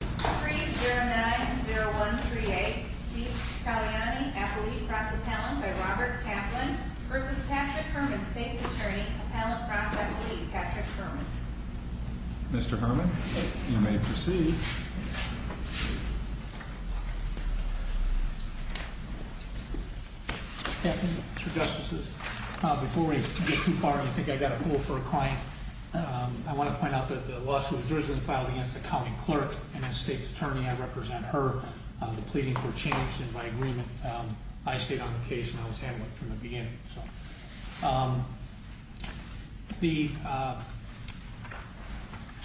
3090138 Steve Talianai, appellate cross appellant by Robert Kaplan v. Patrick Herrmann, state's attorney, appellant cross appellate Patrick Herrmann. Mr. Herrmann, you may proceed. Mr. Justices, before we get too far and I think I've got a poll for a client, I want to point out that the lawsuit was originally filed against a county clerk, and as state's attorney I represent her. The pleadings were changed in my agreement. I stayed on the case and I was handling it from the beginning. The, I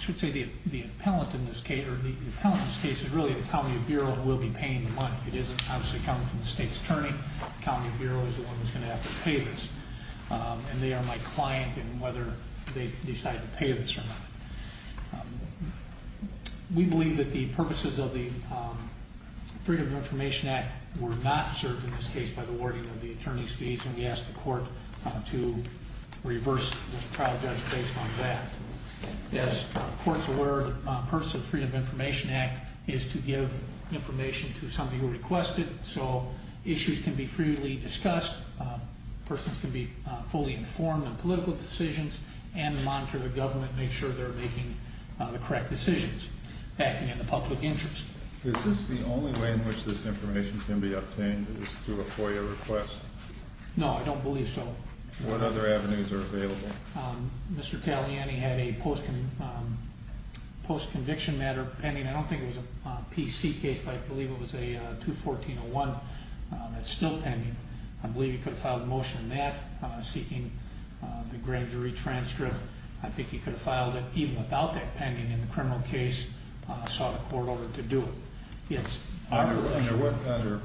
should say the appellant in this case, or the appellant in this case is really the county bureau who will be paying the money. It doesn't obviously come from the state's attorney. The county bureau is the one who's going to have to pay this. And they are my client in whether they decide to pay this or not. We believe that the purposes of the Freedom of Information Act were not served in this case by the wording of the attorney's fees, and we ask the court to reverse the trial judge based on that. As courts are aware, the purpose of the Freedom of Information Act is to give information to somebody who requested, so issues can be freely discussed. Persons can be fully informed on political decisions and monitor the government to make sure they're making the correct decisions acting in the public interest. Is this the only way in which this information can be obtained is through a FOIA request? No, I don't believe so. What other avenues are available? Mr. Taliani had a post-conviction matter pending. I don't think it was a PC case, but I believe it was a 214-01 that's still pending. I believe he could have filed a motion in that seeking the grand jury transcript. I think he could have filed it even without that pending in the criminal case, saw the court order to do it. Under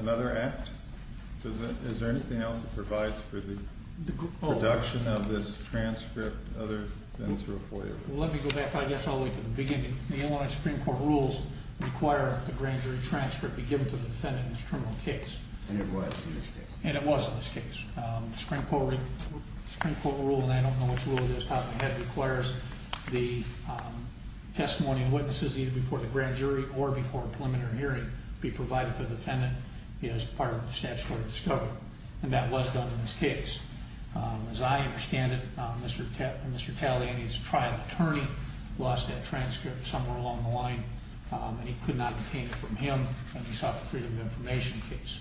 another act? Is there anything else that provides for the production of this transcript other than through a FOIA request? Let me go back, I guess, all the way to the beginning. The Illinois Supreme Court rules require a grand jury transcript be given to the defendant in this criminal case. And it was in this case. And it was in this case. The Supreme Court rule, and I don't know which rule it is, requires the testimony and witnesses either before the grand jury or before a preliminary hearing be provided to the defendant as part of the statutory discovery. And that was done in this case. As I understand it, Mr. Taliani's trial attorney lost that transcript somewhere along the line. And he could not obtain it from him. And he sought the freedom of information case.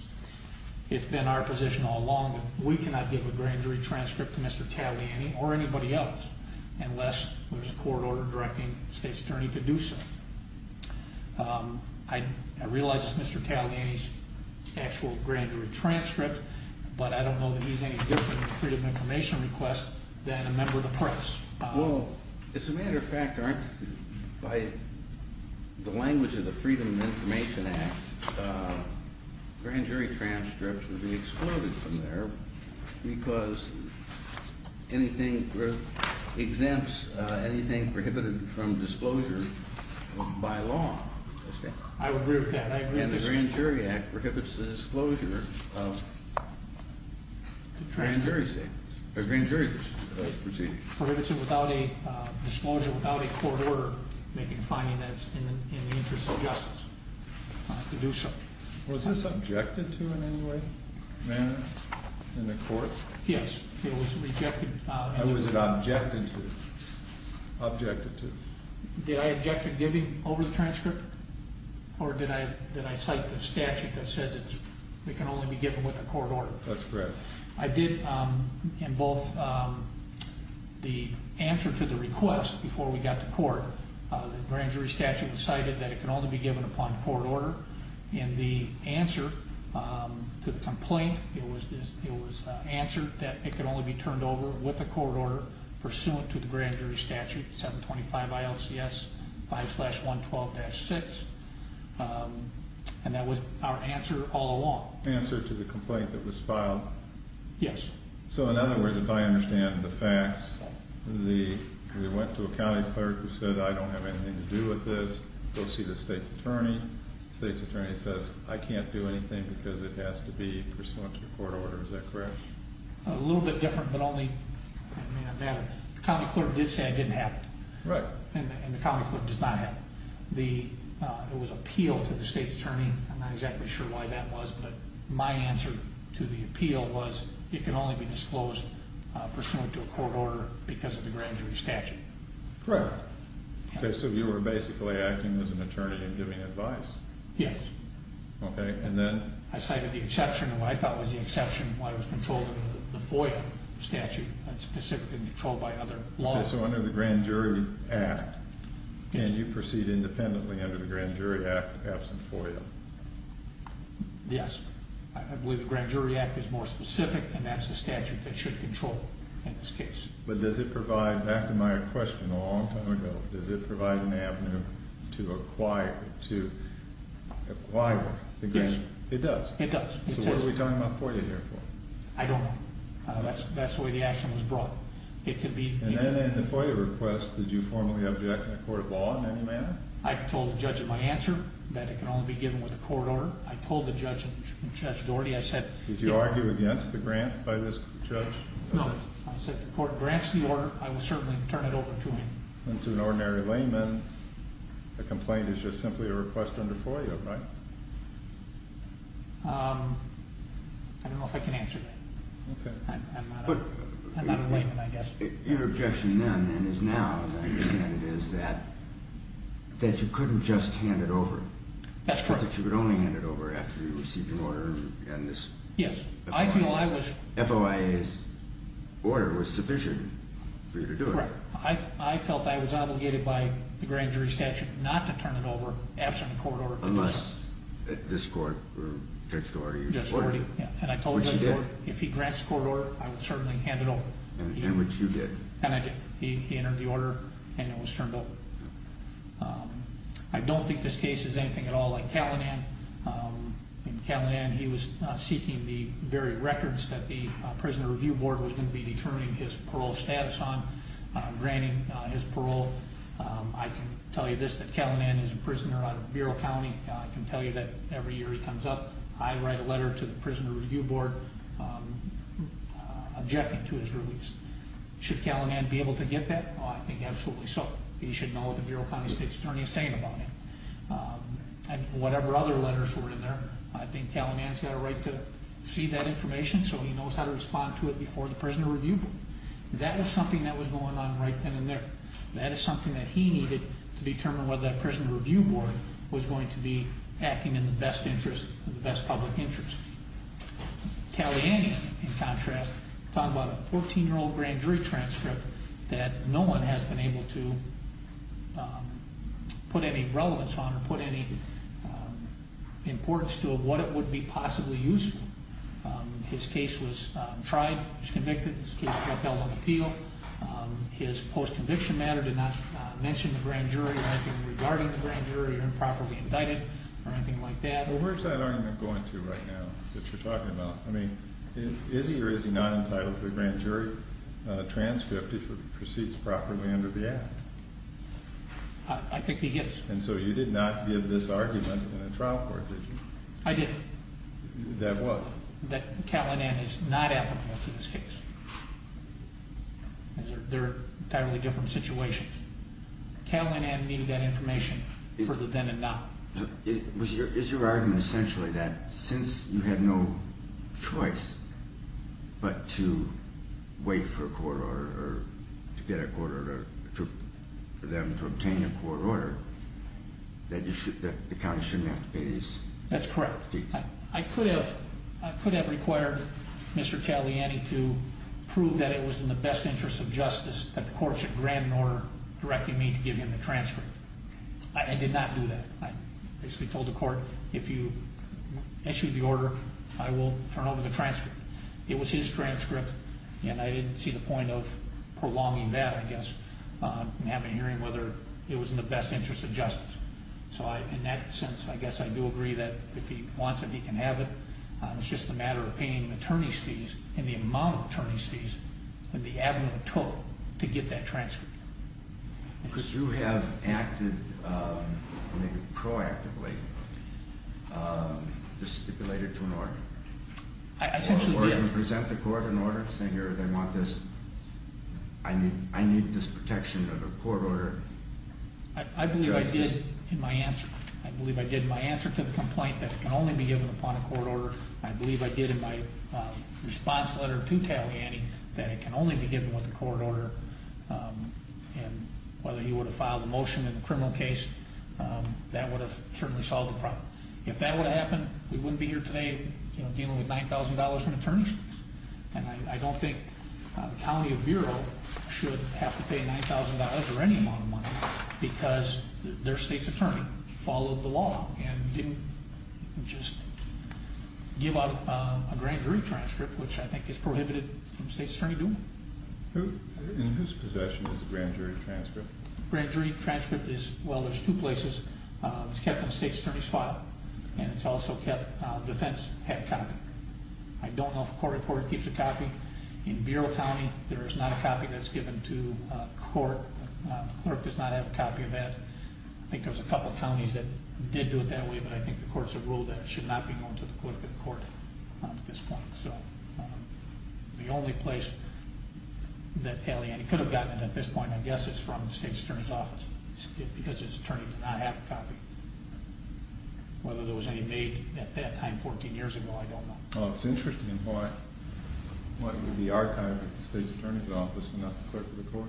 It's been our position all along that we cannot give a grand jury transcript to Mr. Taliani or anybody else unless there's a court order directing the state's attorney to do so. I realize it's Mr. Taliani's actual grand jury transcript, but I don't know that he's any different in the freedom of information request than a member of the press. Well, as a matter of fact, by the language of the Freedom of Information Act, grand jury transcripts would be excluded from there because anything exempts anything prohibited from disclosure by law. I agree with that. And the Grand Jury Act prohibits the disclosure of grand jury proceedings. It prohibits it without a disclosure, without a court order, making a finding that's in the interest of justice to do so. Was this objected to in any way, manner, in the court? Yes. It was rejected. How was it objected to? Objected to? Did I object to giving over the transcript? Or did I cite the statute that says it can only be given with a court order? That's correct. I did, in both the answer to the request before we got to court, the grand jury statute cited that it can only be given upon court order. In the answer to the complaint, it was answered that it can only be turned over with a court order pursuant to the grand jury statute, 725 ILCS 5-112-6. And that was our answer all along. The answer to the complaint that was filed? Yes. So in other words, if I understand the facts, we went to a county clerk who said, I don't have anything to do with this. Go see the state's attorney. The state's attorney says, I can't do anything because it has to be pursuant to court order. Is that correct? A little bit different, but only, I mean, the county clerk did say it didn't happen. Right. It was appealed to the state's attorney. I'm not exactly sure why that was, but my answer to the appeal was it can only be disclosed pursuant to a court order because of the grand jury statute. Correct. Okay, so you were basically acting as an attorney and giving advice? Yes. Okay, and then? I cited the exception, and what I thought was the exception was why it was controlled under the FOIA statute. That's specifically controlled by other laws. Okay, so under the Grand Jury Act, can you proceed independently under the Grand Jury Act absent FOIA? Yes. I believe the Grand Jury Act is more specific, and that's the statute that should control in this case. But does it provide, back to my question a long time ago, does it provide an avenue to acquire the grand jury? Yes. It does? It does. So what are we talking about FOIA here for? I don't know. That's the way the action was brought. And then in the FOIA request, did you formally object in a court of law in any manner? I told the judge in my answer that it can only be given with a court order. I told the judge in Judge Doherty, I said- Did you argue against the grant by this judge? No, I said the court grants the order. I will certainly turn it over to him. And to an ordinary layman, a complaint is just simply a request under FOIA, right? I don't know if I can answer that. Okay. I'm not a layman, I guess. Your objection then is now, as I understand it, is that you couldn't just hand it over. That's correct. That you could only hand it over after you received an order on this. Yes. I feel I was- FOIA's order was sufficient for you to do it. Correct. I felt I was obligated by the grand jury statute not to turn it over absent a court order. Unless this court or Judge Doherty ordered it. Judge Doherty, yeah. Which he did. If he grants the court order, I will certainly hand it over. In which you did. And I did. He entered the order and it was turned over. I don't think this case is anything at all like Calinan. In Calinan, he was seeking the very records that the Prisoner Review Board was going to be determining his parole status on, granting his parole. I can tell you this, that Calinan is a prisoner out of Bureau County. I can tell you that every year he comes up, I write a letter to the Prisoner Review Board objecting to his release. Should Calinan be able to get that? Oh, I think absolutely so. He should know what the Bureau County State's Attorney is saying about him. And whatever other letters were in there, I think Calinan's got a right to see that information so he knows how to respond to it before the Prisoner Review Board. That was something that was going on right then and there. That is something that he needed to determine whether that Prisoner Review Board was going to be acting in the best interest, the best public interest. Calinan, in contrast, talked about a 14-year-old grand jury transcript that no one has been able to put any relevance on or put any importance to of what it would be possibly useful. His case was tried, he was convicted. His case got held on appeal. His post-conviction matter did not mention the grand jury or anything regarding the grand jury or improperly indicted or anything like that. Well, where's that argument going to right now that you're talking about? I mean, is he or is he not entitled to a grand jury transcript if it proceeds properly under the Act? I think he is. And so you did not give this argument in a trial court, did you? I didn't. That what? That Calinan is not applicable to this case. They're entirely different situations. Calinan needed that information for the then and now. Is your argument essentially that since you had no choice but to wait for a court order or to get a court order for them to obtain a court order, that the county shouldn't have to pay these fees? That's correct. I could have required Mr. Taliani to prove that it was in the best interest of justice that the court should grant an order directing me to give him the transcript. I did not do that. I basically told the court, if you issue the order, I will turn over the transcript. It was his transcript, and I didn't see the point of prolonging that, I guess, and having a hearing whether it was in the best interest of justice. So in that sense, I guess I do agree that if he wants it, he can have it. It's just a matter of paying the attorney's fees and the amount of attorney's fees that the avenue took to get that transcript. Could you have acted proactively to stipulate it to an order? I essentially did. Or to present the court an order saying I need this protection of a court order? I believe I did in my answer. I believe I did in my answer to the complaint that it can only be given upon a court order. I believe I did in my response letter to Taliani that it can only be given with a court order, and whether he would have filed a motion in the criminal case, that would have certainly solved the problem. If that would have happened, we wouldn't be here today dealing with $9,000 in attorney's fees, and I don't think the County Bureau should have to pay $9,000 or any amount of money because their state's attorney followed the law and didn't just give out a grand jury transcript, which I think is prohibited from state's attorney doing. In whose possession is the grand jury transcript? The grand jury transcript is, well, there's two places. It's kept in the state's attorney's file, and it's also kept on defense headcount. I don't know if a court reporter keeps a copy. In Bureau County, there is not a copy that's given to the court. The clerk does not have a copy of that. I think there's a couple of counties that did do it that way, but I think the courts have ruled that it should not be going to the clerk of the court at this point. So the only place that Taliani could have gotten it at this point, I guess, is from the state's attorney's office because his attorney did not have a copy. Whether there was any made at that time 14 years ago, I don't know. Well, it's interesting. What would be archived at the state's attorney's office and not the clerk of the court?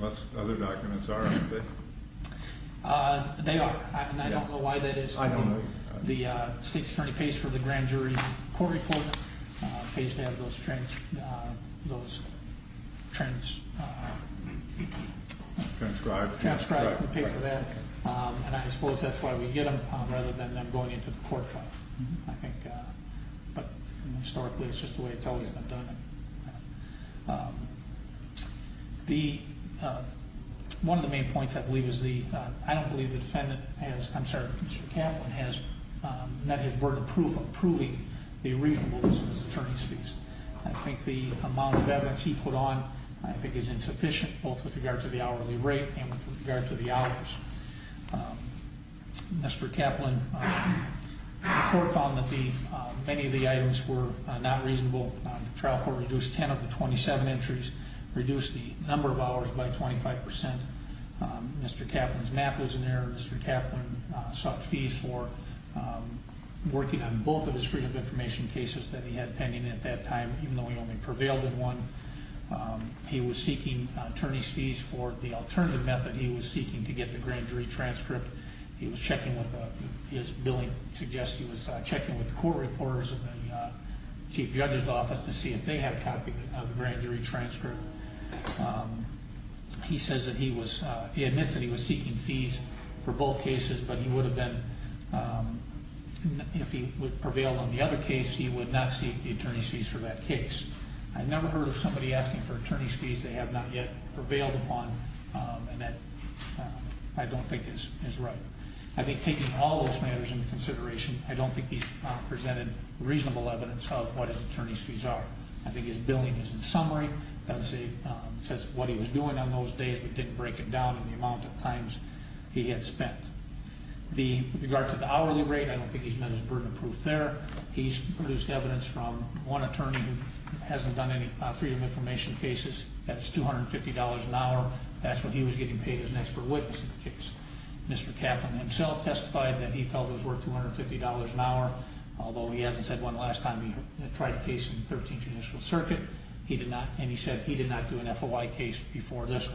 Most other documents are, aren't they? They are, and I don't know why that is. The state's attorney pays for the grand jury court report, pays to have those transcribed and paid for that, and I suppose that's why we get them rather than them going into the court file. I think, historically, it's just the way it's always been done. One of the main points I believe is the, I don't believe the defendant has, I'm sorry, Mr. Kaplan has met his word of proof of proving the reasonableness of his attorney's fees. I think the amount of evidence he put on, I think, is insufficient, both with regard to the hourly rate and with regard to the hours. Mr. Kaplan, the court found that many of the items were not reasonable. The trial court reduced 10 of the 27 entries, reduced the number of hours by 25%. Mr. Kaplan's math was in error. Mr. Kaplan sought fees for working on both of his freedom of information cases that he had pending at that time, even though he only prevailed in one. He was seeking attorney's fees for the alternative method he was seeking to get the grand jury transcript. He was checking with, his billing suggests he was checking with the court reporters in the chief judge's office to see if they had a copy of the grand jury transcript. He says that he was, he admits that he was seeking fees for both cases, but he would have been, if he would have prevailed on the other case, he would not seek the attorney's fees for that case. I've never heard of somebody asking for attorney's fees they have not yet prevailed upon, and that I don't think is right. I think taking all those matters into consideration, I don't think he's presented reasonable evidence of what his attorney's fees are. I think his billing is in summary. It says what he was doing on those days, but didn't break it down in the amount of times he had spent. With regard to the hourly rate, I don't think he's met his burden of proof there. He's produced evidence from one attorney who hasn't done any Freedom of Information cases. That's $250 an hour. That's what he was getting paid as an expert witness in the case. Mr. Kaplan himself testified that he felt it was worth $250 an hour, although he hasn't said one last time he tried a case in the 13th Judicial Circuit. He did not, and he said he did not do an FOI case before this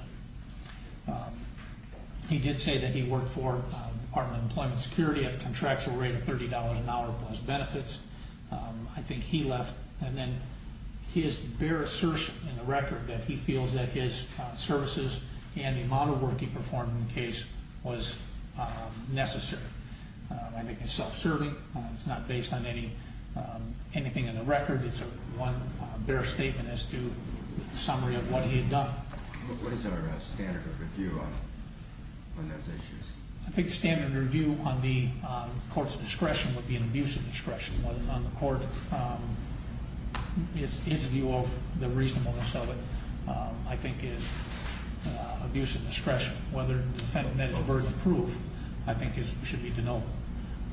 one. He did say that he worked for the Department of Employment and Security at a contractual rate of $30 an hour plus benefits. I think he left. And then his bare assertion in the record that he feels that his services and the amount of work he performed in the case was necessary. I think it's self-serving. It's not based on anything in the record. It's one bare statement as to a summary of what he had done. What is our standard of review on those issues? I think the standard of review on the court's discretion would be an abuse of discretion. On the court, his view of the reasonableness of it, I think, is abuse of discretion. Whether the defendant met his burden of proof, I think, should be denoted.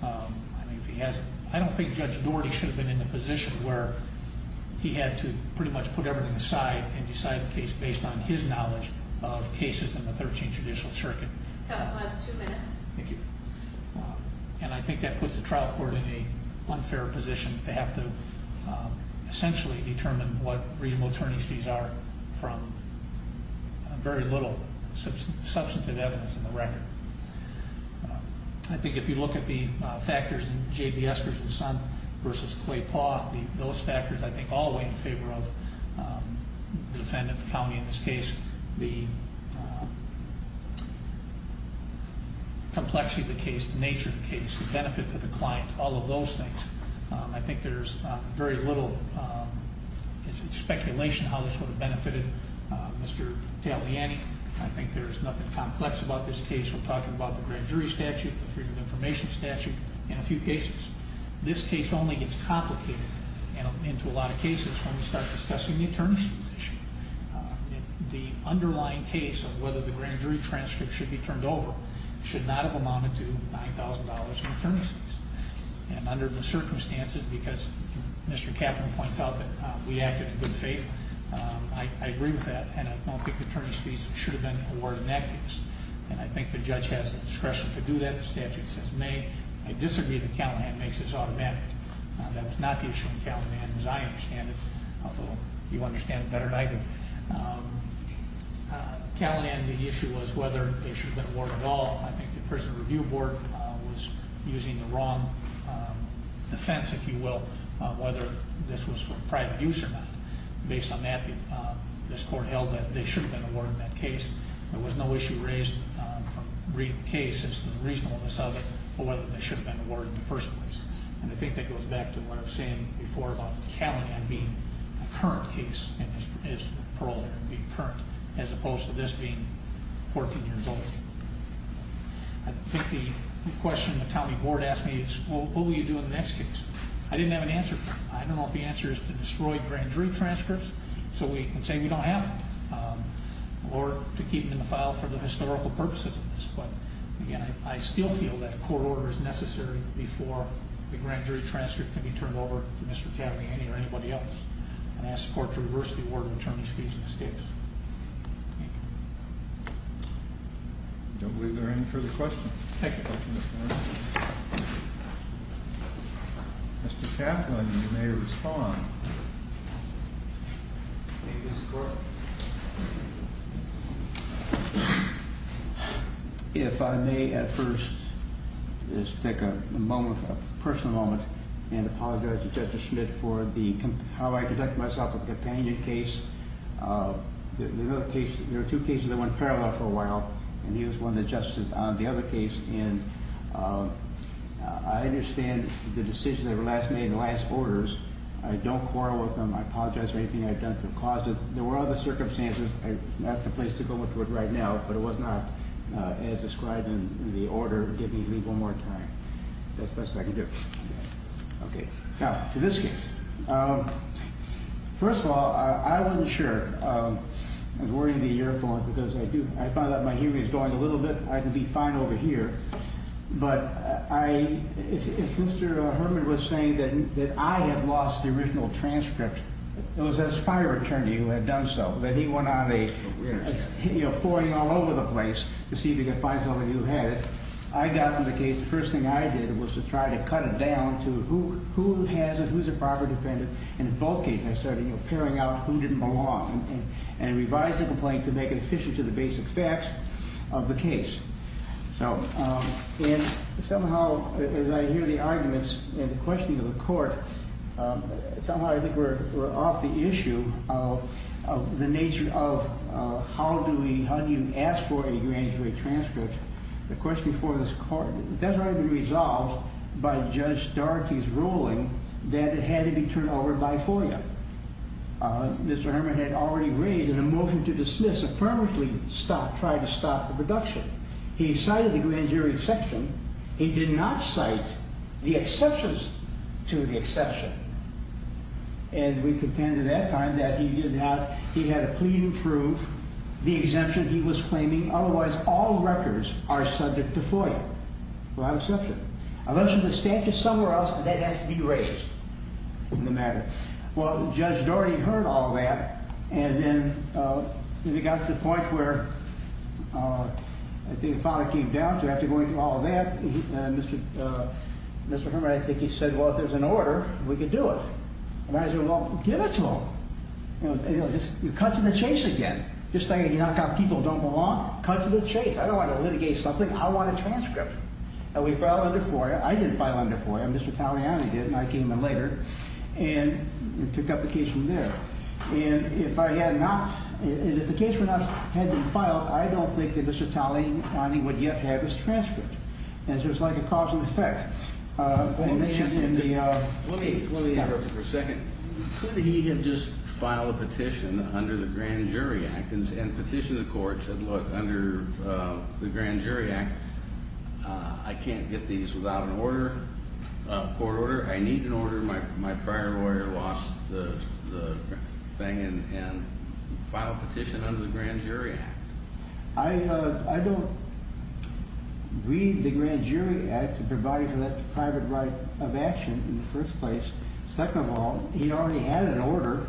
I don't think Judge Doherty should have been in the position where he had to pretty much put everything aside and decide a case based on his knowledge of cases in the 13th Judicial Circuit. Counsel has two minutes. Thank you. I think that puts the trial court in an unfair position to have to essentially determine what reasonable attorney's fees are from very little substantive evidence in the record. I think if you look at the factors in J.B. Esker's and Son v. Clay Paugh, those factors, I think, all weigh in favor of the defendant, the county in this case. The complexity of the case, the nature of the case, the benefit to the client, all of those things. I think there's very little speculation how this would have benefited Mr. Taliani. I think there's nothing complex about this case. We're talking about the grand jury statute, the freedom of information statute, and a few cases. This case only gets complicated into a lot of cases when we start discussing the attorneys' position. The underlying case of whether the grand jury transcript should be turned over should not have amounted to $9,000 in attorney's fees. Under the circumstances, because Mr. Catherin points out that we acted in good faith, I agree with that, and I don't think the attorney's fees should have been awarded in that case. I think the judge has the discretion to do that. The statute says may. I disagree that Callahan makes this automatic. That was not the issue in Callahan as I understand it, although you understand it better than I do. Callahan, the issue was whether they should have been awarded at all. I think the Prison Review Board was using the wrong defense, if you will, whether this was for private use or not. Based on that, this court held that they should have been awarded in that case. There was no issue raised from reading the case as to the reasonableness of it or whether they should have been awarded in the first place. And I think that goes back to what I was saying before about Callahan being a current case in his parole there, being current, as opposed to this being 14 years old. I think the question the county board asked me is, what will you do in the next case? I didn't have an answer for it. I don't know if the answer is to destroy grand jury transcripts and say we don't have them or to keep them in the file for the historical purposes of this. But, again, I still feel that court order is necessary before the grand jury transcript can be turned over to Mr. Cavaney or anybody else. And I ask the court to reverse the order in terms of these mistakes. Thank you. I don't believe there are any further questions. Thank you. Mr. Cavaney, you may respond. Thank you, Mr. Court. If I may at first just take a moment, a personal moment, and apologize to Judge Schmidt for how I conducted myself with the companion case. There were two cases that went parallel for a while, and he was one that justices on the other case. And I understand the decision that was made in the last orders. I don't quarrel with him. I apologize for anything I've done to have caused it. There were other circumstances. I'm not at the place to go into it right now, but it was not as described in the order. Give me one more time. That's the best I can do. Okay. Now, to this case. First of all, I wasn't sure. I was wearing the earphones because I do. I find that my hearing is going a little bit. I can be fine over here. But if Mr. Herman was saying that I had lost the original transcript, it was his fire attorney who had done so, that he went on a, you know, foray all over the place to see if he could find something that you had. I got to the case. The first thing I did was to try to cut it down to who has it, who's a proper defendant. And in both cases I started, you know, pairing out who didn't belong and revised the complaint to make it efficient to the basic facts of the case. So, and somehow as I hear the arguments and the questioning of the court, somehow I think we're off the issue of the nature of how do we, how do you ask for a grand jury transcript. The question for this court, that's already been resolved by Judge Doherty's ruling that it had to be turned over by FOIA. Mr. Herman had already raised in a motion to dismiss, affirmatively stopped, tried to stop the production. He cited the grand jury exception. He did not cite the exceptions to the exception. And we contended at that time that he didn't have, he had to please approve the exemption he was claiming. Otherwise, all records are subject to FOIA. Without exception. Unless there's a statute somewhere else that has to be raised in the matter. Well, Judge Doherty heard all that and then it got to the point where I think Father came down to, after going through all that, Mr. Herman, I think he said, well, if there's an order, we can do it. And I said, well, give it to him. You know, just cuts in the chase again. Just saying you knock out people who don't belong. Cuts in the chase. I don't want to litigate something. I want a transcript. And we filed under FOIA. I didn't file under FOIA. Mr. Taliani did, and I came in later and took up the case from there. And if I had not, and if the case had not been filed, I don't think that Mr. Taliani would yet have his transcript. And so it's like a cause and effect. Let me ask you something. Let me interrupt you for a second. Could he have just filed a petition under the Grand Jury Act and petitioned the court and said, look, under the Grand Jury Act, I can't get these without an order, a court order. I need an order. I'm sure my prior lawyer lost the thing and filed a petition under the Grand Jury Act. I don't read the Grand Jury Act to provide for that private right of action in the first place. Second of all, he already had an order.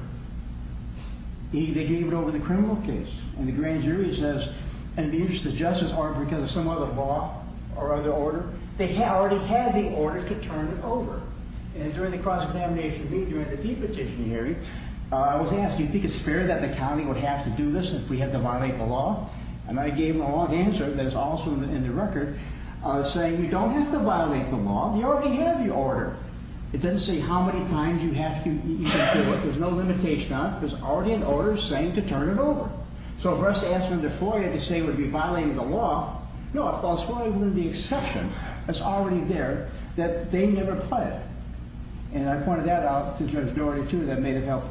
He gave it over the criminal case. And the Grand Jury says, and the interests of justice aren't because of some other law or other order. They already had the order to turn it over. And during the cross-examination meeting, during the de-petition hearing, I was asked, do you think it's fair that the county would have to do this if we have to violate the law? And I gave him a long answer that is also in the record saying, you don't have to violate the law. You already have the order. It doesn't say how many times you have to do it. There's no limitation on it. There's already an order saying to turn it over. So for us to ask under FOIA to say we'd be violating the law, no, FOIA wouldn't be an exception. It's already there that they never applied it. And I pointed that out to Judge Doherty, too, that may have helped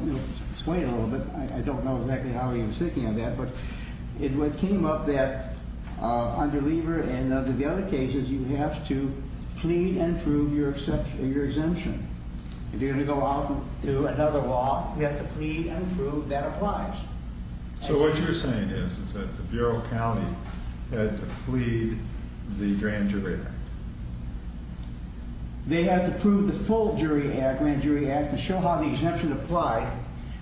sway it a little bit. I don't know exactly how he was thinking of that. But it came up that under Lever and under the other cases, you have to plead and prove your exemption. If you're going to go out and do another law, you have to plead and prove that applies. So what you're saying is, is that the Bureau of County had to plead the Grand Jury Act? They had to prove the full Grand Jury Act and show how the exemption applied,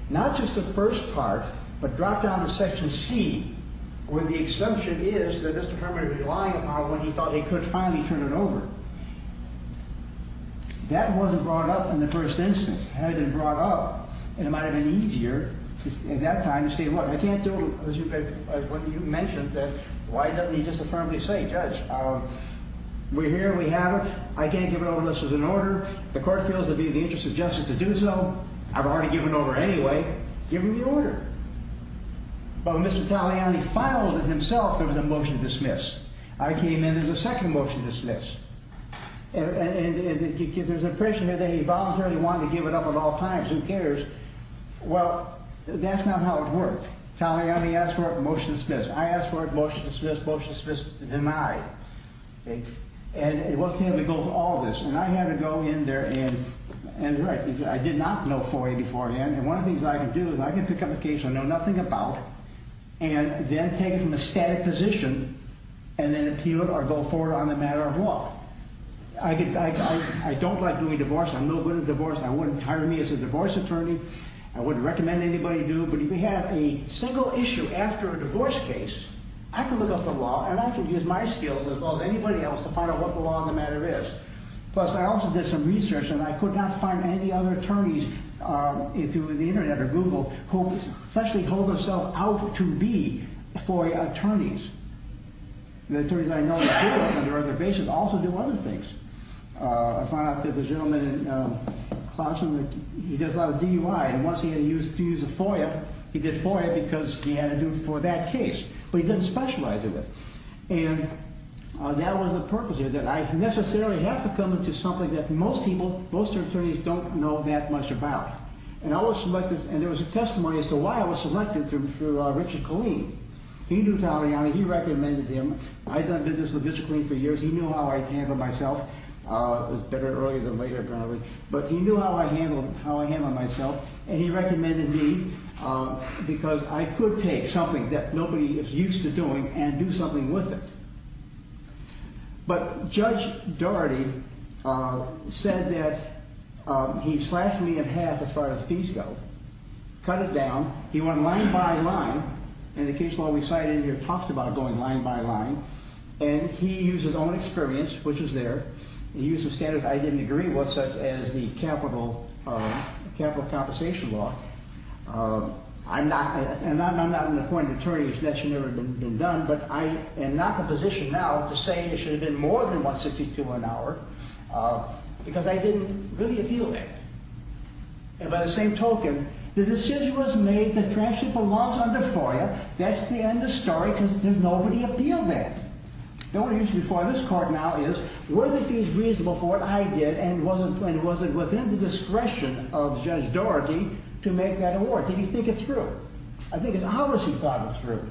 not just the first part, but drop down to Section C, where the exemption is that Mr. Herman is relying upon when he thought he could finally turn it over. That wasn't brought up in the first instance. It hadn't been brought up. And it might have been easier in that time to say, look, I can't do what you mentioned, that why doesn't he just affirmably say, Judge, we're here and we have it. I can't give it over unless there's an order. The court feels it would be in the interest of justice to do so. I've already given over anyway. Give me the order. But when Mr. Taliani filed it himself, there was a motion to dismiss. I came in. There's a second motion to dismiss. And there's an impression here that he voluntarily wanted to give it up at all times. Who cares? Well, that's not how it worked. Taliani asked for it. Motion dismissed. I asked for it. Motion dismissed. Motion dismissed. Denied. And it wasn't going to go through all of this. And I had to go in there and write. I did not know FOIA beforehand. And one of the things I can do is I can pick up a case I know nothing about and then take it from a static position and then appeal it or go forward on the matter of law. I don't like doing divorce. I'm no good at divorce. I wouldn't hire me as a divorce attorney. I wouldn't recommend anybody do it. But if you have a single issue after a divorce case, I can look up the law and I can use my skills as well as anybody else to find out what the law of the matter is. Plus, I also did some research, and I could not find any other attorneys through the Internet or Google who actually hold themselves out to be FOIA attorneys. The attorneys I know that do it on a regular basis also do other things. I found out that the gentleman in Clarkson, he does a lot of DUI. And once he had to use a FOIA, he did FOIA because he had to do it for that case. But he didn't specialize in it. And that was the purpose here, that I necessarily have to come into something that most people, most attorneys don't know that much about. And I was selected, and there was a testimony as to why I was selected through Richard Killeen. He knew Taliani. He recommended him. I'd done business with Richard Killeen for years. He knew how I handled myself. It was better earlier than later, apparently. But he knew how I handled myself, and he recommended me because I could take something that nobody is used to doing and do something with it. But Judge Daugherty said that he slashed me in half as far as fees go, cut it down. He went line by line, and the case law we cited here talks about going line by line. And he used his own experience, which is there. He used the standards I didn't agree with, such as the capital compensation law. And I'm not an appointed attorney. That should never have been done. But I am not in a position now to say it should have been more than $162 an hour because I didn't really appeal that. And by the same token, the decision was made that transaction belongs under FOIA. That's the end of the story because there's nobody to appeal that. The only issue before this court now is, were the fees reasonable for what I did, and was it within the discretion of Judge Daugherty to make that award? Did he think it through? I think it's obvious he thought it through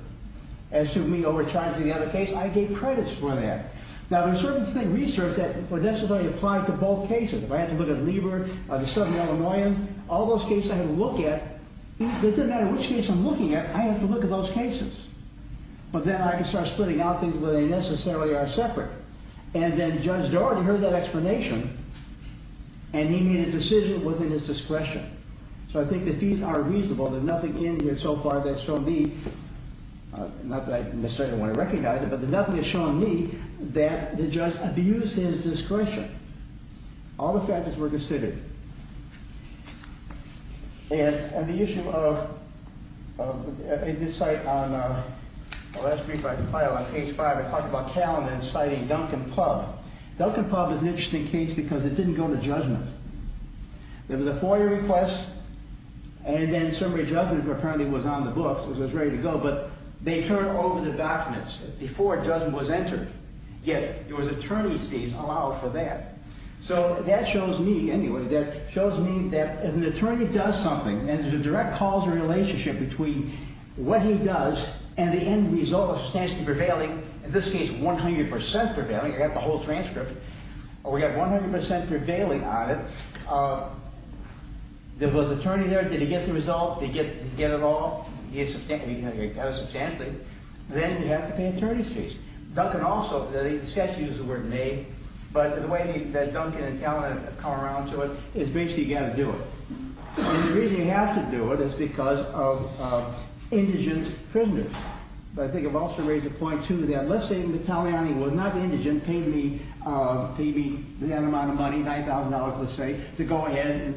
as to me overcharging the other case. I gave credits for that. Now, there's certain research that would necessarily apply to both cases. If I had to look at Lieber, the Southern Illinoisan, all those cases I had to look at, it doesn't matter which case I'm looking at, I have to look at those cases. But then I can start splitting out things where they necessarily are separate. And then Judge Daugherty heard that explanation, and he made a decision within his discretion. So I think the fees are reasonable. There's nothing in here so far that's shown me, not that I necessarily want to recognize it, but there's nothing that's shown me that the judge abused his discretion. All the factors were considered. And the issue of this site, on the last brief I compiled on page 5, I talked about Calum and citing Duncan Pub. Duncan Pub is an interesting case because it didn't go to judgment. There was a FOIA request, and then somebody's judgment apparently was on the books, so it was ready to go, but they turned over the documents before judgment was entered. Yet, there was attorney's fees allowed for that. So that shows me, anyway, that shows me that if an attorney does something, and there's a direct causal relationship between what he does and the end result substantially prevailing, in this case, 100% prevailing, you've got the whole transcript, or we've got 100% prevailing on it, there was an attorney there, did he get the result? Did he get it all? He did substantially. Then you have to pay attorney's fees. Duncan also, he said to use the word may, but the way that Duncan and Calum have come around to it is basically you've got to do it. And the reason you have to do it is because of indigent prisoners. But I think I've also raised a point, too, that let's say Matteliani was not indigent, paid me that amount of money, $9,000, let's say, to go ahead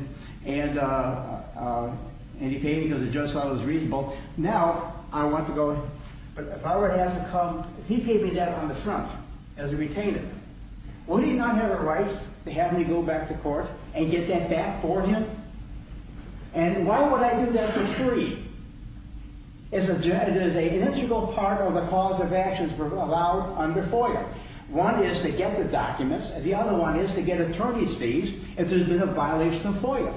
and he paid me because the judge thought it was reasonable. Now, I want to go, but if I were to have him come, if he gave me that on the front as a retainer, would he not have a right to have me go back to court and get that back for him? And why would I do that for free? There's an integral part of the cause of actions allowed under FOIA. One is to get the documents. The other one is to get attorney's fees if there's been a violation of FOIA.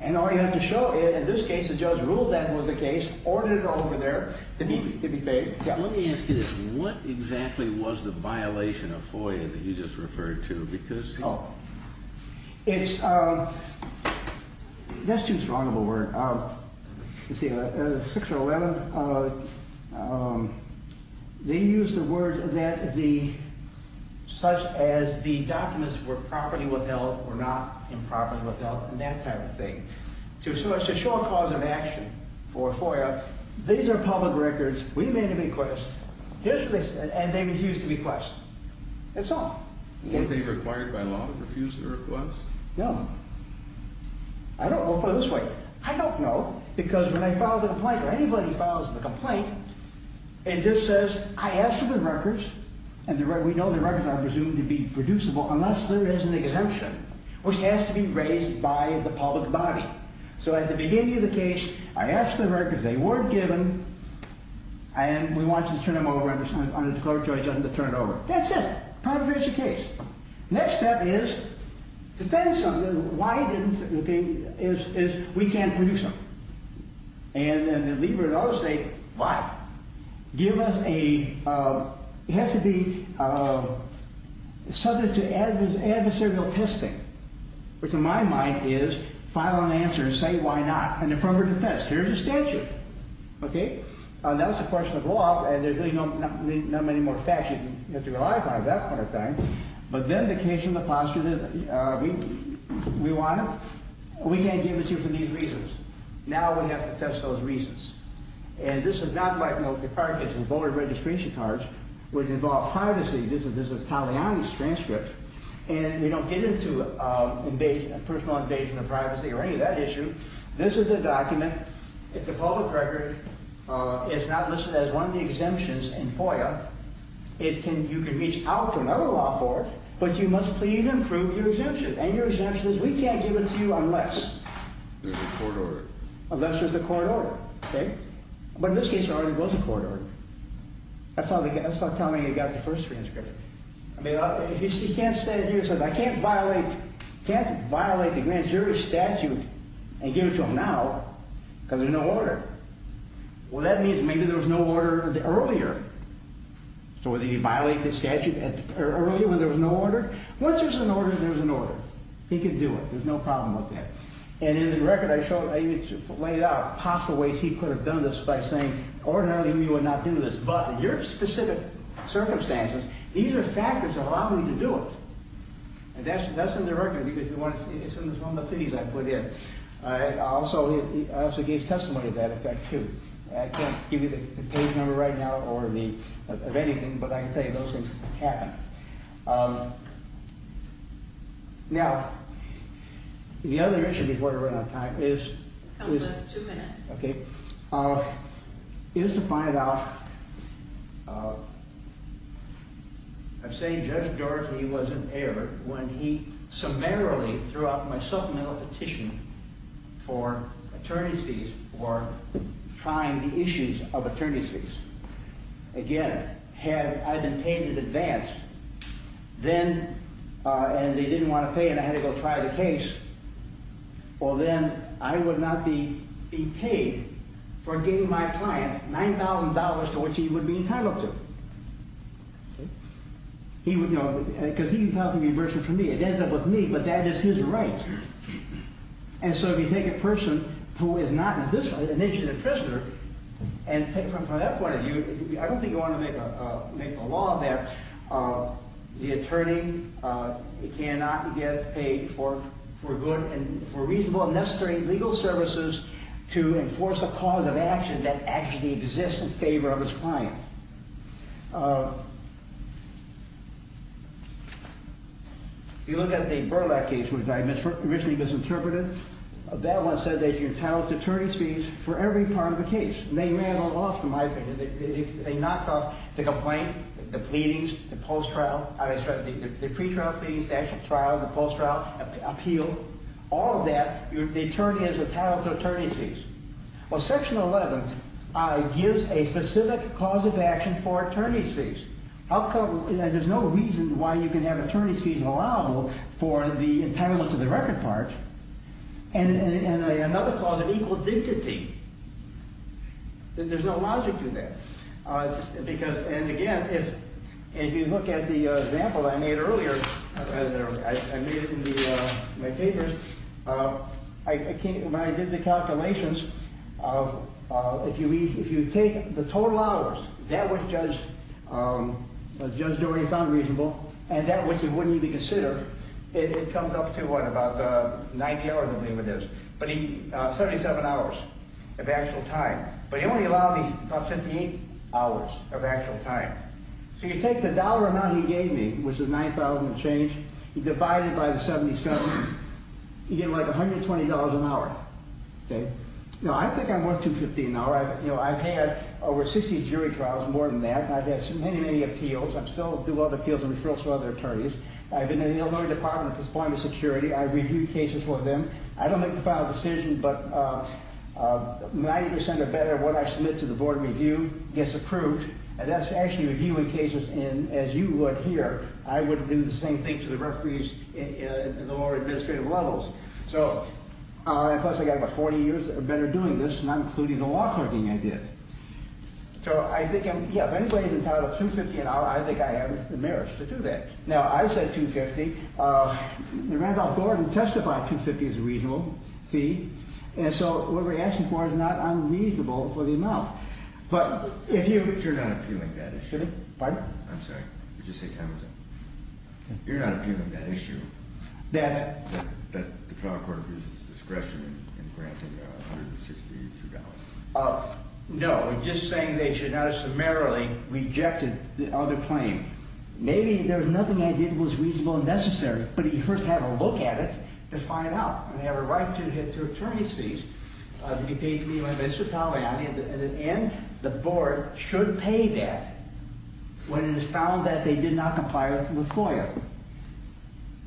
And all you have to show, in this case, the judge ruled that was the case, ordered it over there to be paid. Let me ask you this. What exactly was the violation of FOIA that you just referred to? Because... Oh, it's... Let's use a vulnerable word. You see, 611, they used the word that the... such as the documents were properly withheld or not improperly withheld and that kind of thing. To show a cause of action for FOIA, these are public records. We made a request. Here's what they said. And they refused to request. That's all. Weren't they required by law to refuse their request? No. I don't know. We'll put it this way. I don't know because when I filed a complaint or anybody files a complaint and just says, I asked for the records and we know the records are presumed to be producible unless there is an exemption which has to be raised by the public body. So at the beginning of the case, I asked for the records. They weren't given and we want you to turn them over under the declaratory judgment to turn it over. That's it. Problem finished the case. Next step is defend something. Why it didn't, okay, is we can't produce something. And then leave it at all to say, why? Give us a... It has to be subject to adversarial testing which in my mind is file an answer and say why not an affirmative defense. Here's a statute. Okay? And that's a question of law and there's really not many more facts you have to rely upon at that point of time. But then the case in the posture that we want, we can't give it to you for these reasons. Now we have to test those reasons. And this is not like, you know, the card cases, voter registration cards which involve privacy. This is Taliani's transcript. And we don't get into personal invasion of privacy or any of that issue. This is a document. It's a public record. It's not listed as one of the exemptions in FOIA. You can reach out to another law court but you must plead and prove your exemption. And your exemption is we can't give it to you unless... There's a court order. Unless there's a court order. Okay? But in this case, there already was a court order. That's not Taliani that got the first transcript. He can't stand here and say, I can't violate... And give it to him now because there's no order. Well, that means maybe there was no order earlier. So whether he violated the statute earlier when there was no order. Once there's an order, there's an order. He can do it. There's no problem with that. And in the record, I even laid out possible ways he could have done this by saying, ordinarily we would not do this. But in your specific circumstances, these are factors that allow me to do it. And that's in the record because it's in one of the things I put in. I also gave testimony to that effect, too. I can't give you the page number right now of anything, but I can tell you those things happen. Now, the other issue before I run out of time is... It's two minutes. Okay. Is to find out... I say Judge Dorsey was in error when he summarily threw out my supplemental petition for attorney's fees for trying the issues of attorney's fees. Again, had I been paid in advance, then, and they didn't want to pay and I had to go try the case, well then, I would not be paid for giving my client $9,000 to which he would be entitled to. Because he's entitled to reimbursement from me. It ends up with me, but that is his right. And so, if you take a person who is not an innocent prisoner and from that point of view, I don't think you want to make a law that the attorney cannot get paid for good and reasonable and necessary legal services to enforce a cause of action that actually exists in favor of his client. If you look at the Burlak case which I originally misinterpreted, that one said that you're entitled to attorney's fees for every part of the case. They may have lost, in my opinion, they knocked off the complaint, the pleadings, the post-trial, the pre-trial pleadings, the actual trial, the post-trial appeal, all of that, they turned it into entitled to attorney's fees. Well, Section 11 gives a specific cause of defamation for attorney's fees. There's no reason why you can have attorney's fees allowable for the entitlement to the record part. And another clause of equal dignity. There's no logic to that. And again, if you look at the example I made earlier, I made it in my papers, when I did the calculations, if you take the total hours, that which Judge Doherty found reasonable, and that which he wouldn't even consider, it comes up to what, about 90 hours, I believe it is, 77 hours of actual time. But he only allowed me about 58 hours of actual time. So you take the dollar amount he gave me, which is 9,000 and change, you divide it by the 77, you get like $120 an hour. Now I think I'm worth $250 an hour. I've had over 60 jury complaints and trials, more than that. I've had so many, many appeals. I still do other appeals and referrals to other attorneys. I've been in the Illinois Department for employment security. I've reviewed cases for them. I don't make the final decision, but 90% or better of what I submit to the Board of Review gets approved. And that's actually reviewing cases, and as you would here, I would do the same thing to the referees in the more administrative levels. So, plus I got about 40 years or better doing this, not including the law clerking I did. So I think, yeah, if anybody's entitled to $250 an hour, I think I have the merits to do that. Now, I said $250. Randolph-Gordon testified $250 is a reasonable fee, and so what we're asking for is not unreasonable for the amount. But if you... You're not appealing that issue. Pardon? I'm sorry. Did you say time was up? You're not appealing that issue. That? That the trial court abuses discretion in granting $162. Oh, no. I'm just saying they should not have summarily rejected the other claim. Maybe there was nothing I did that was reasonable and necessary, but he first had a look at it to find out. And they have a right to hit their attorney's fees. He paid me my municipality. At the end, the board should pay that when it is found that they did not comply with FOIA.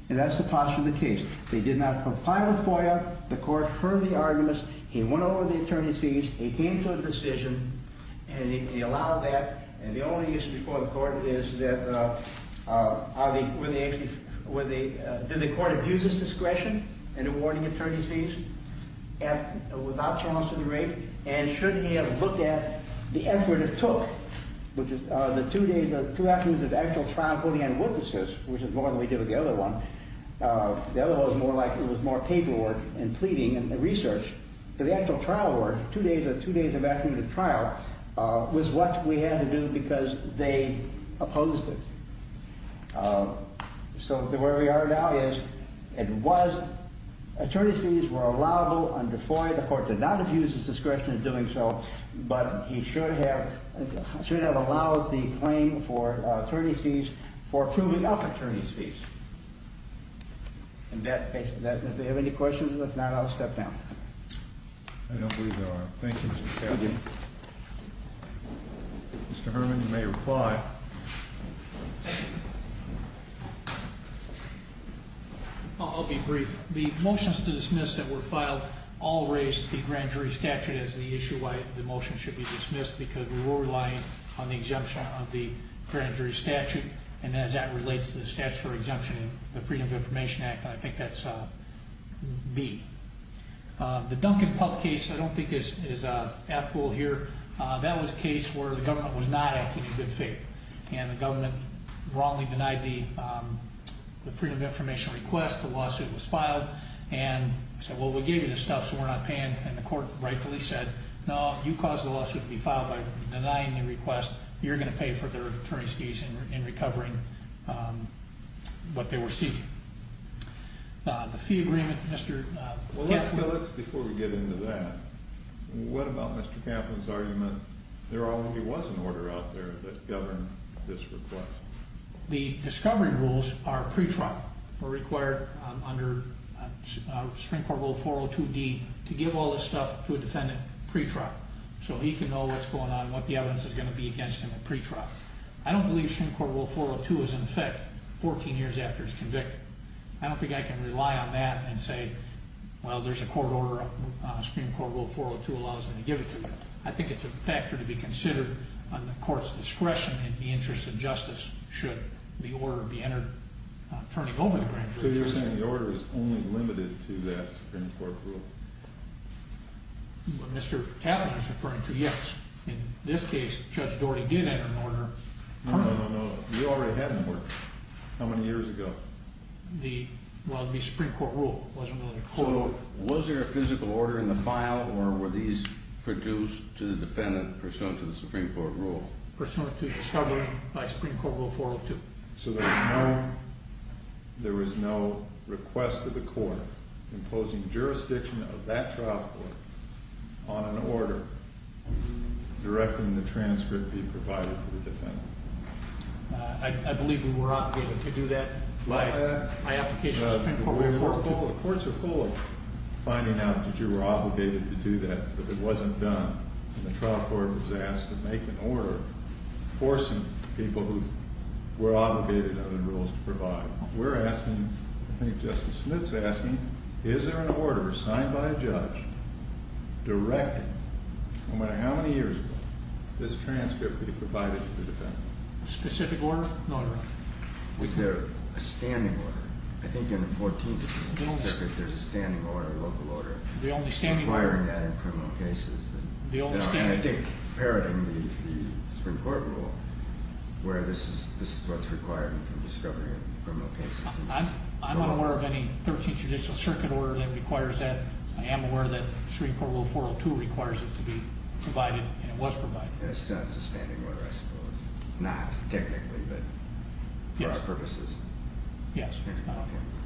And that's the posture of the case. They did not comply with FOIA. The court heard the arguments. He went over the attorney's fees. He came to a decision. And he allowed that. And the only issue before the court is that... Were they actually... Were they... Did the court abuse his discretion in awarding attorney's fees at... Without trust in the rape? And should he have looked at the effort it took, which is the two days... Two afternoons of actual trial for the eyewitnesses, which is more than we did with the other one. The other one was more like... It was more paperwork and pleading and research. But the actual trial work, the two days of afternoon trial, was what we had to do because they opposed it. So where we are now is it was... Attorney's fees were allowable under FOIA. The court did not abuse his discretion in doing so. But he should have... Should have allowed the claim for attorney's fees for proving up attorney's fees. And that... If you have any questions, if not, I'll step down. I don't believe there are. Thank you, Mr. Chairman. Mr. Herman, you may reply. I'll be brief. The motions to dismiss that were filed all raised the grand jury statute as the issue why the motion should be dismissed because we were relying on the exemption of the grand jury statute. And as that relates to the statutory exemption in the Freedom of Information Act, I think that's B. The Duncan Pup case, I don't think is applicable here. That was a case where the government was not acting in good faith. And the government wrongly denied the Freedom of Information request. The lawsuit was filed. And said, well, we gave you this stuff so we're not paying. And the court rightfully said, no, you caused the lawsuit to be filed by denying the request. You're going to pay for the attorney's fees in recovering what they were seizing. The fee agreement, Mr. Kaplan... Well, let's, before we get into that, what about Mr. Kaplan's argument there already was an order out there that governed this request? The discovery rules are pre-trial. We're required under Supreme Court Rule 402D to give all this stuff to a defendant pre-trial so he can know what's going on and what the evidence is going to be against him in pre-trial. I don't believe Supreme Court Rule 402 is in effect 14 years after he's convicted. I don't think I can rely on that and say, well, there's a court order Supreme Court Rule 402 allows me to give it to you. I think it's a factor to be considered on the court's discretion in the interest of justice should the order be entered turning over the grand jury. So you're saying the order is only limited to that Supreme Court rule? What Mr. Kaplan is referring to, yes. In this case, Judge Doherty did enter an order. No, no, no, no. You already had an order. How many years ago? Well, the Supreme Court rule wasn't on the court. So, was there a physical order in the file or were these produced to the defendant pursuant to the Supreme Court rule? Pursuant to the discovery by Supreme Court Rule 402. So there was no request to the court imposing jurisdiction of that trial court on an order directing the transcript be provided to the defendant. I believe we were obligated to do that by application of the Supreme Court Rule 402. The courts are full of finding out that you were obligated to do that but it wasn't done. And the trial court was asked to make an order forcing people under the rules to provide. We're asking, I think Justice Smith's asking, is there an order signed by a judge directing, no matter how many years ago, this transcript be provided to the defendant? A specific order? No, Your Honor. Was there a standing order? I think in the 14th Circuit there's a standing order, a local order, requiring that in criminal cases. And I think paralleling the Supreme Court rule where this is what's required for discovery in criminal cases. I'm not aware of any 13th Judicial Circuit order that requires that. I am aware that Supreme Court Rule 402 requires it to be provided and it was provided. So it's a standing order, I suppose. Not technically, but for our purposes. Yes. Okay.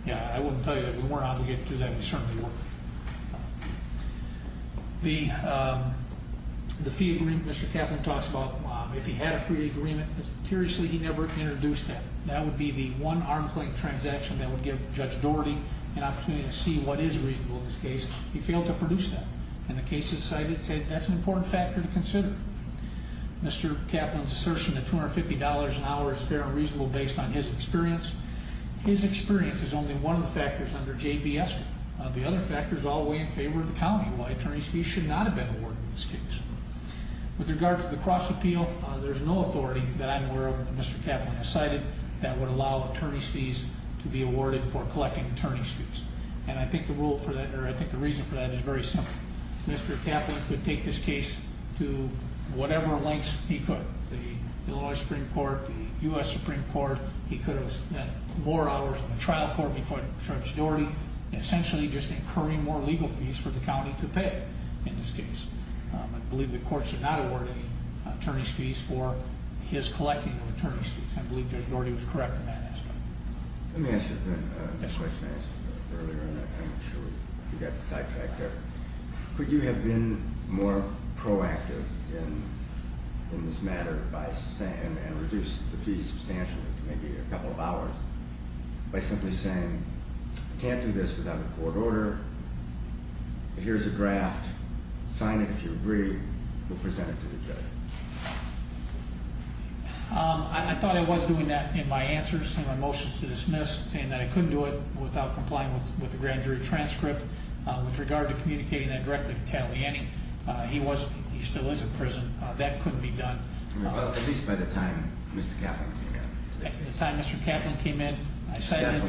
Yeah, I wouldn't tell you that we weren't obligated to do that, we certainly weren't. The fee agreement Mr. Kaplan talks about, if he had a free agreement, curiously he never introduced that. That would be the one arm's length transaction that would give Judge Doherty an opportunity to see what is reasonable in this case. He failed to produce that. And the cases cited say that's an important factor to consider. Mr. Kaplan's assertion that $250 an hour is fair and reasonable based on his experience, his experience is only one of the factors under JBS law. The other factors all weigh in favor of the county. Why attorney's fees should not have been awarded in this case. With regard to the cross appeal, there's no authority that I'm aware of that Mr. Kaplan has cited that would allow attorney's fees to be awarded for collecting attorney's fees. And I think the rule for that, or I think the reason for that is very simple. Mr. Kaplan could take this case to whatever lengths he could. The Illinois Supreme Court, the U.S. Supreme Court, he could have spent more hours in the trial court before Judge Doherty, essentially just incurring more legal fees for the county to pay in this case. I believe the court should not award any attorney's fees for his collecting of attorney's fees. I believe Judge Doherty was correct in that aspect. Let me ask you a question I asked earlier, and I'm sure you got the sidetracked there. Could you have been more proactive in this matter and reduce the fees substantially to maybe a couple of hours by simply saying I can't do this without a court order. Here's a draft. Sign it if you agree. We'll present it to the judge. I thought I was doing that in my answers in my motions to dismiss saying that I couldn't do it without complying with the grand jury statute. give you a transcript with regard to communicating that directly to Taliani. He still is in prison. That couldn't be done. At least by the time Mr. Kaplan came in. The time Mr. Kaplan came in, I cited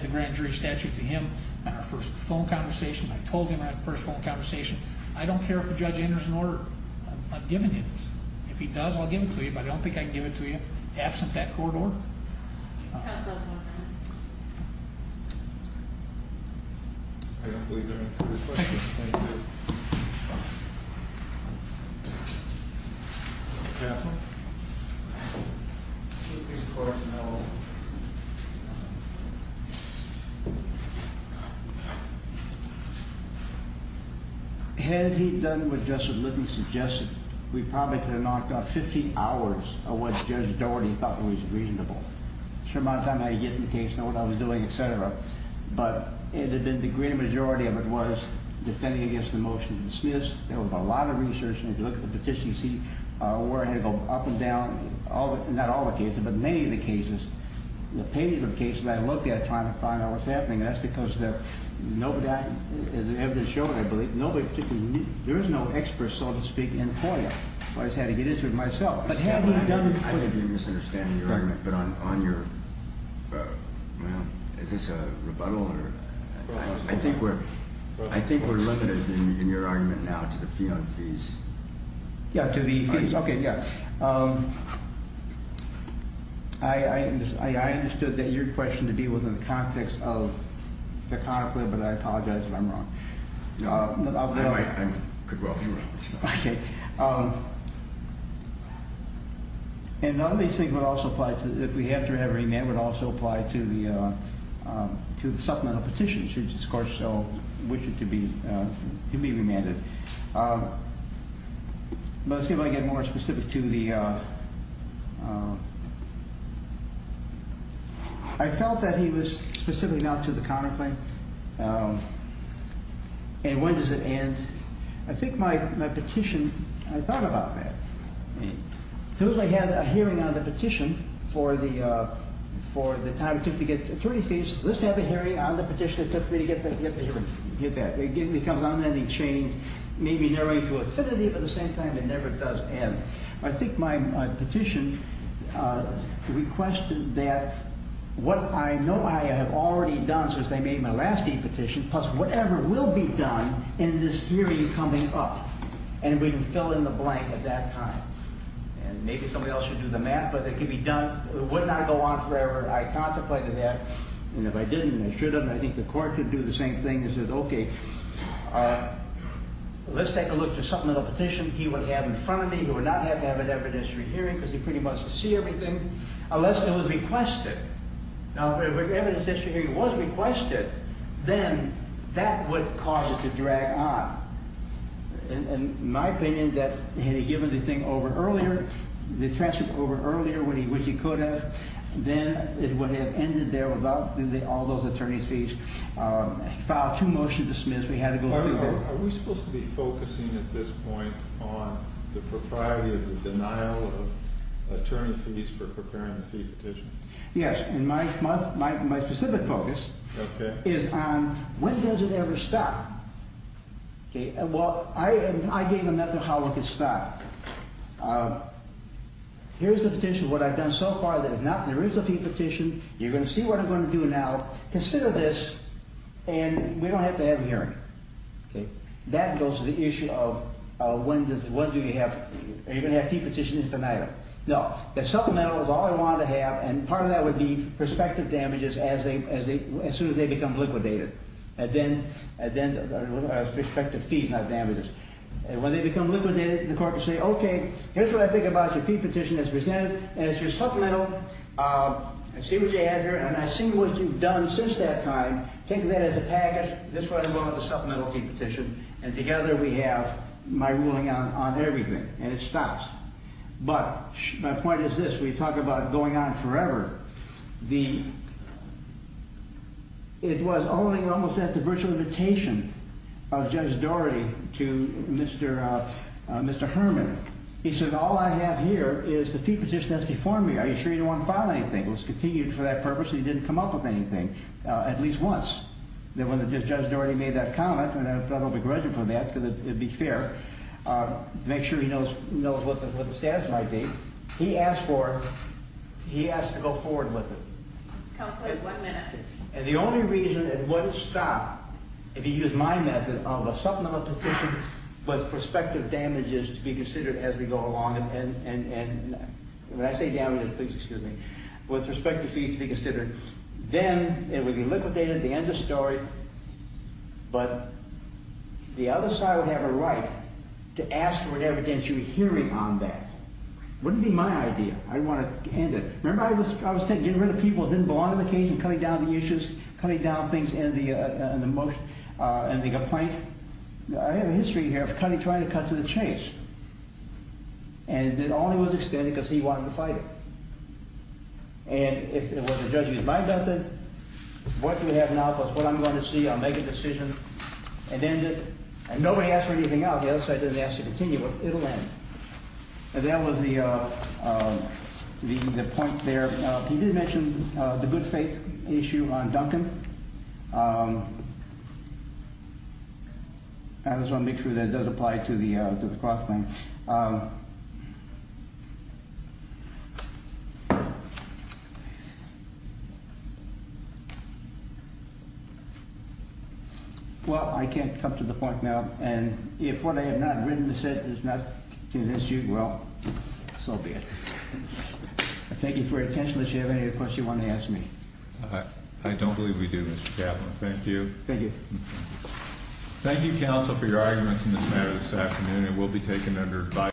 the grand jury statute to him in our first phone conversation. I told him in our first phone conversation I don't care if a judge enters an order. I'm giving it to him. If he does, I'll give it to you. I don't think I can give it to you absent that court order. I don't believe there are any further questions. Thank you. Thank you. Mr. Had he done what Justice Libby suggested, we probably could have knocked out 50,000 people. We probably could have knocked out 50,000 people. The that I did was defend against the motion. There was a lot of research. You can't see up and down that many cases, the cases I looked at and that's because there is no expert so to speak in FOIA. I had to get into it myself. I think we're limited in your argument now to the fees. I understood that your question to be within the context but I apologize if I'm you. If we have to have a remand, it would also apply to the petition. I wish it to be remanded. I felt that he was specific not to the counter claim. When does it end? I think my petition I thought about that. I had a hearing on the petition for the time it took to get attorney fees. It never does end. I think my petition requested that what I know I have already done in this hearing coming up and we can fill in the blank at that time. Maybe somebody else should do the math but it would not go on forever. I contemplated that. Let's take a look at something he would have in front of me. If it was requested, then that would cause it to drag on. In my opinion, had he given the thing over earlier, the transcript over earlier when he could have, then it would have ended there without all those attorney fees. We had to go through that. I think are It is a very difficult case. It is a very difficult case, and it is a difficult case. It is a very difficult case. The case is the criminal body cases. The charge is that you have rauiz. And it stops. But my point is this, we talk about going on forever, it was only almost at the virtual invitation of Judge Doherty to Mr. Herman. He said all I have here is the fee to considered. I don't want to discourage him from that. To make sure he knows what the status might be. He asked to go forward with it. And the only reason it wouldn't stop if he used my method with prospective damages to be considered as we go along. And when I say damages, with prospective fees to be considered, then it would be liquidated, the end of the story. But the other side would have a right to ask for evidence you're hearing on that. It wouldn't be my idea. I didn't want to end it. I was getting rid of people that didn't belong to the case and cutting down issues and complaints. I have a history of trying to cut to the chase. And nobody asked for anything now. The other side didn't ask to continue. It will end. That was the point there. You did mention the good faith issue on Duncan. I want to make a comment. I can't come to the point now. If what I have not written is not an issue, so be it. Thank you for your attention. If you have any questions, ask me. I don't believe we do. Thank you. Thank you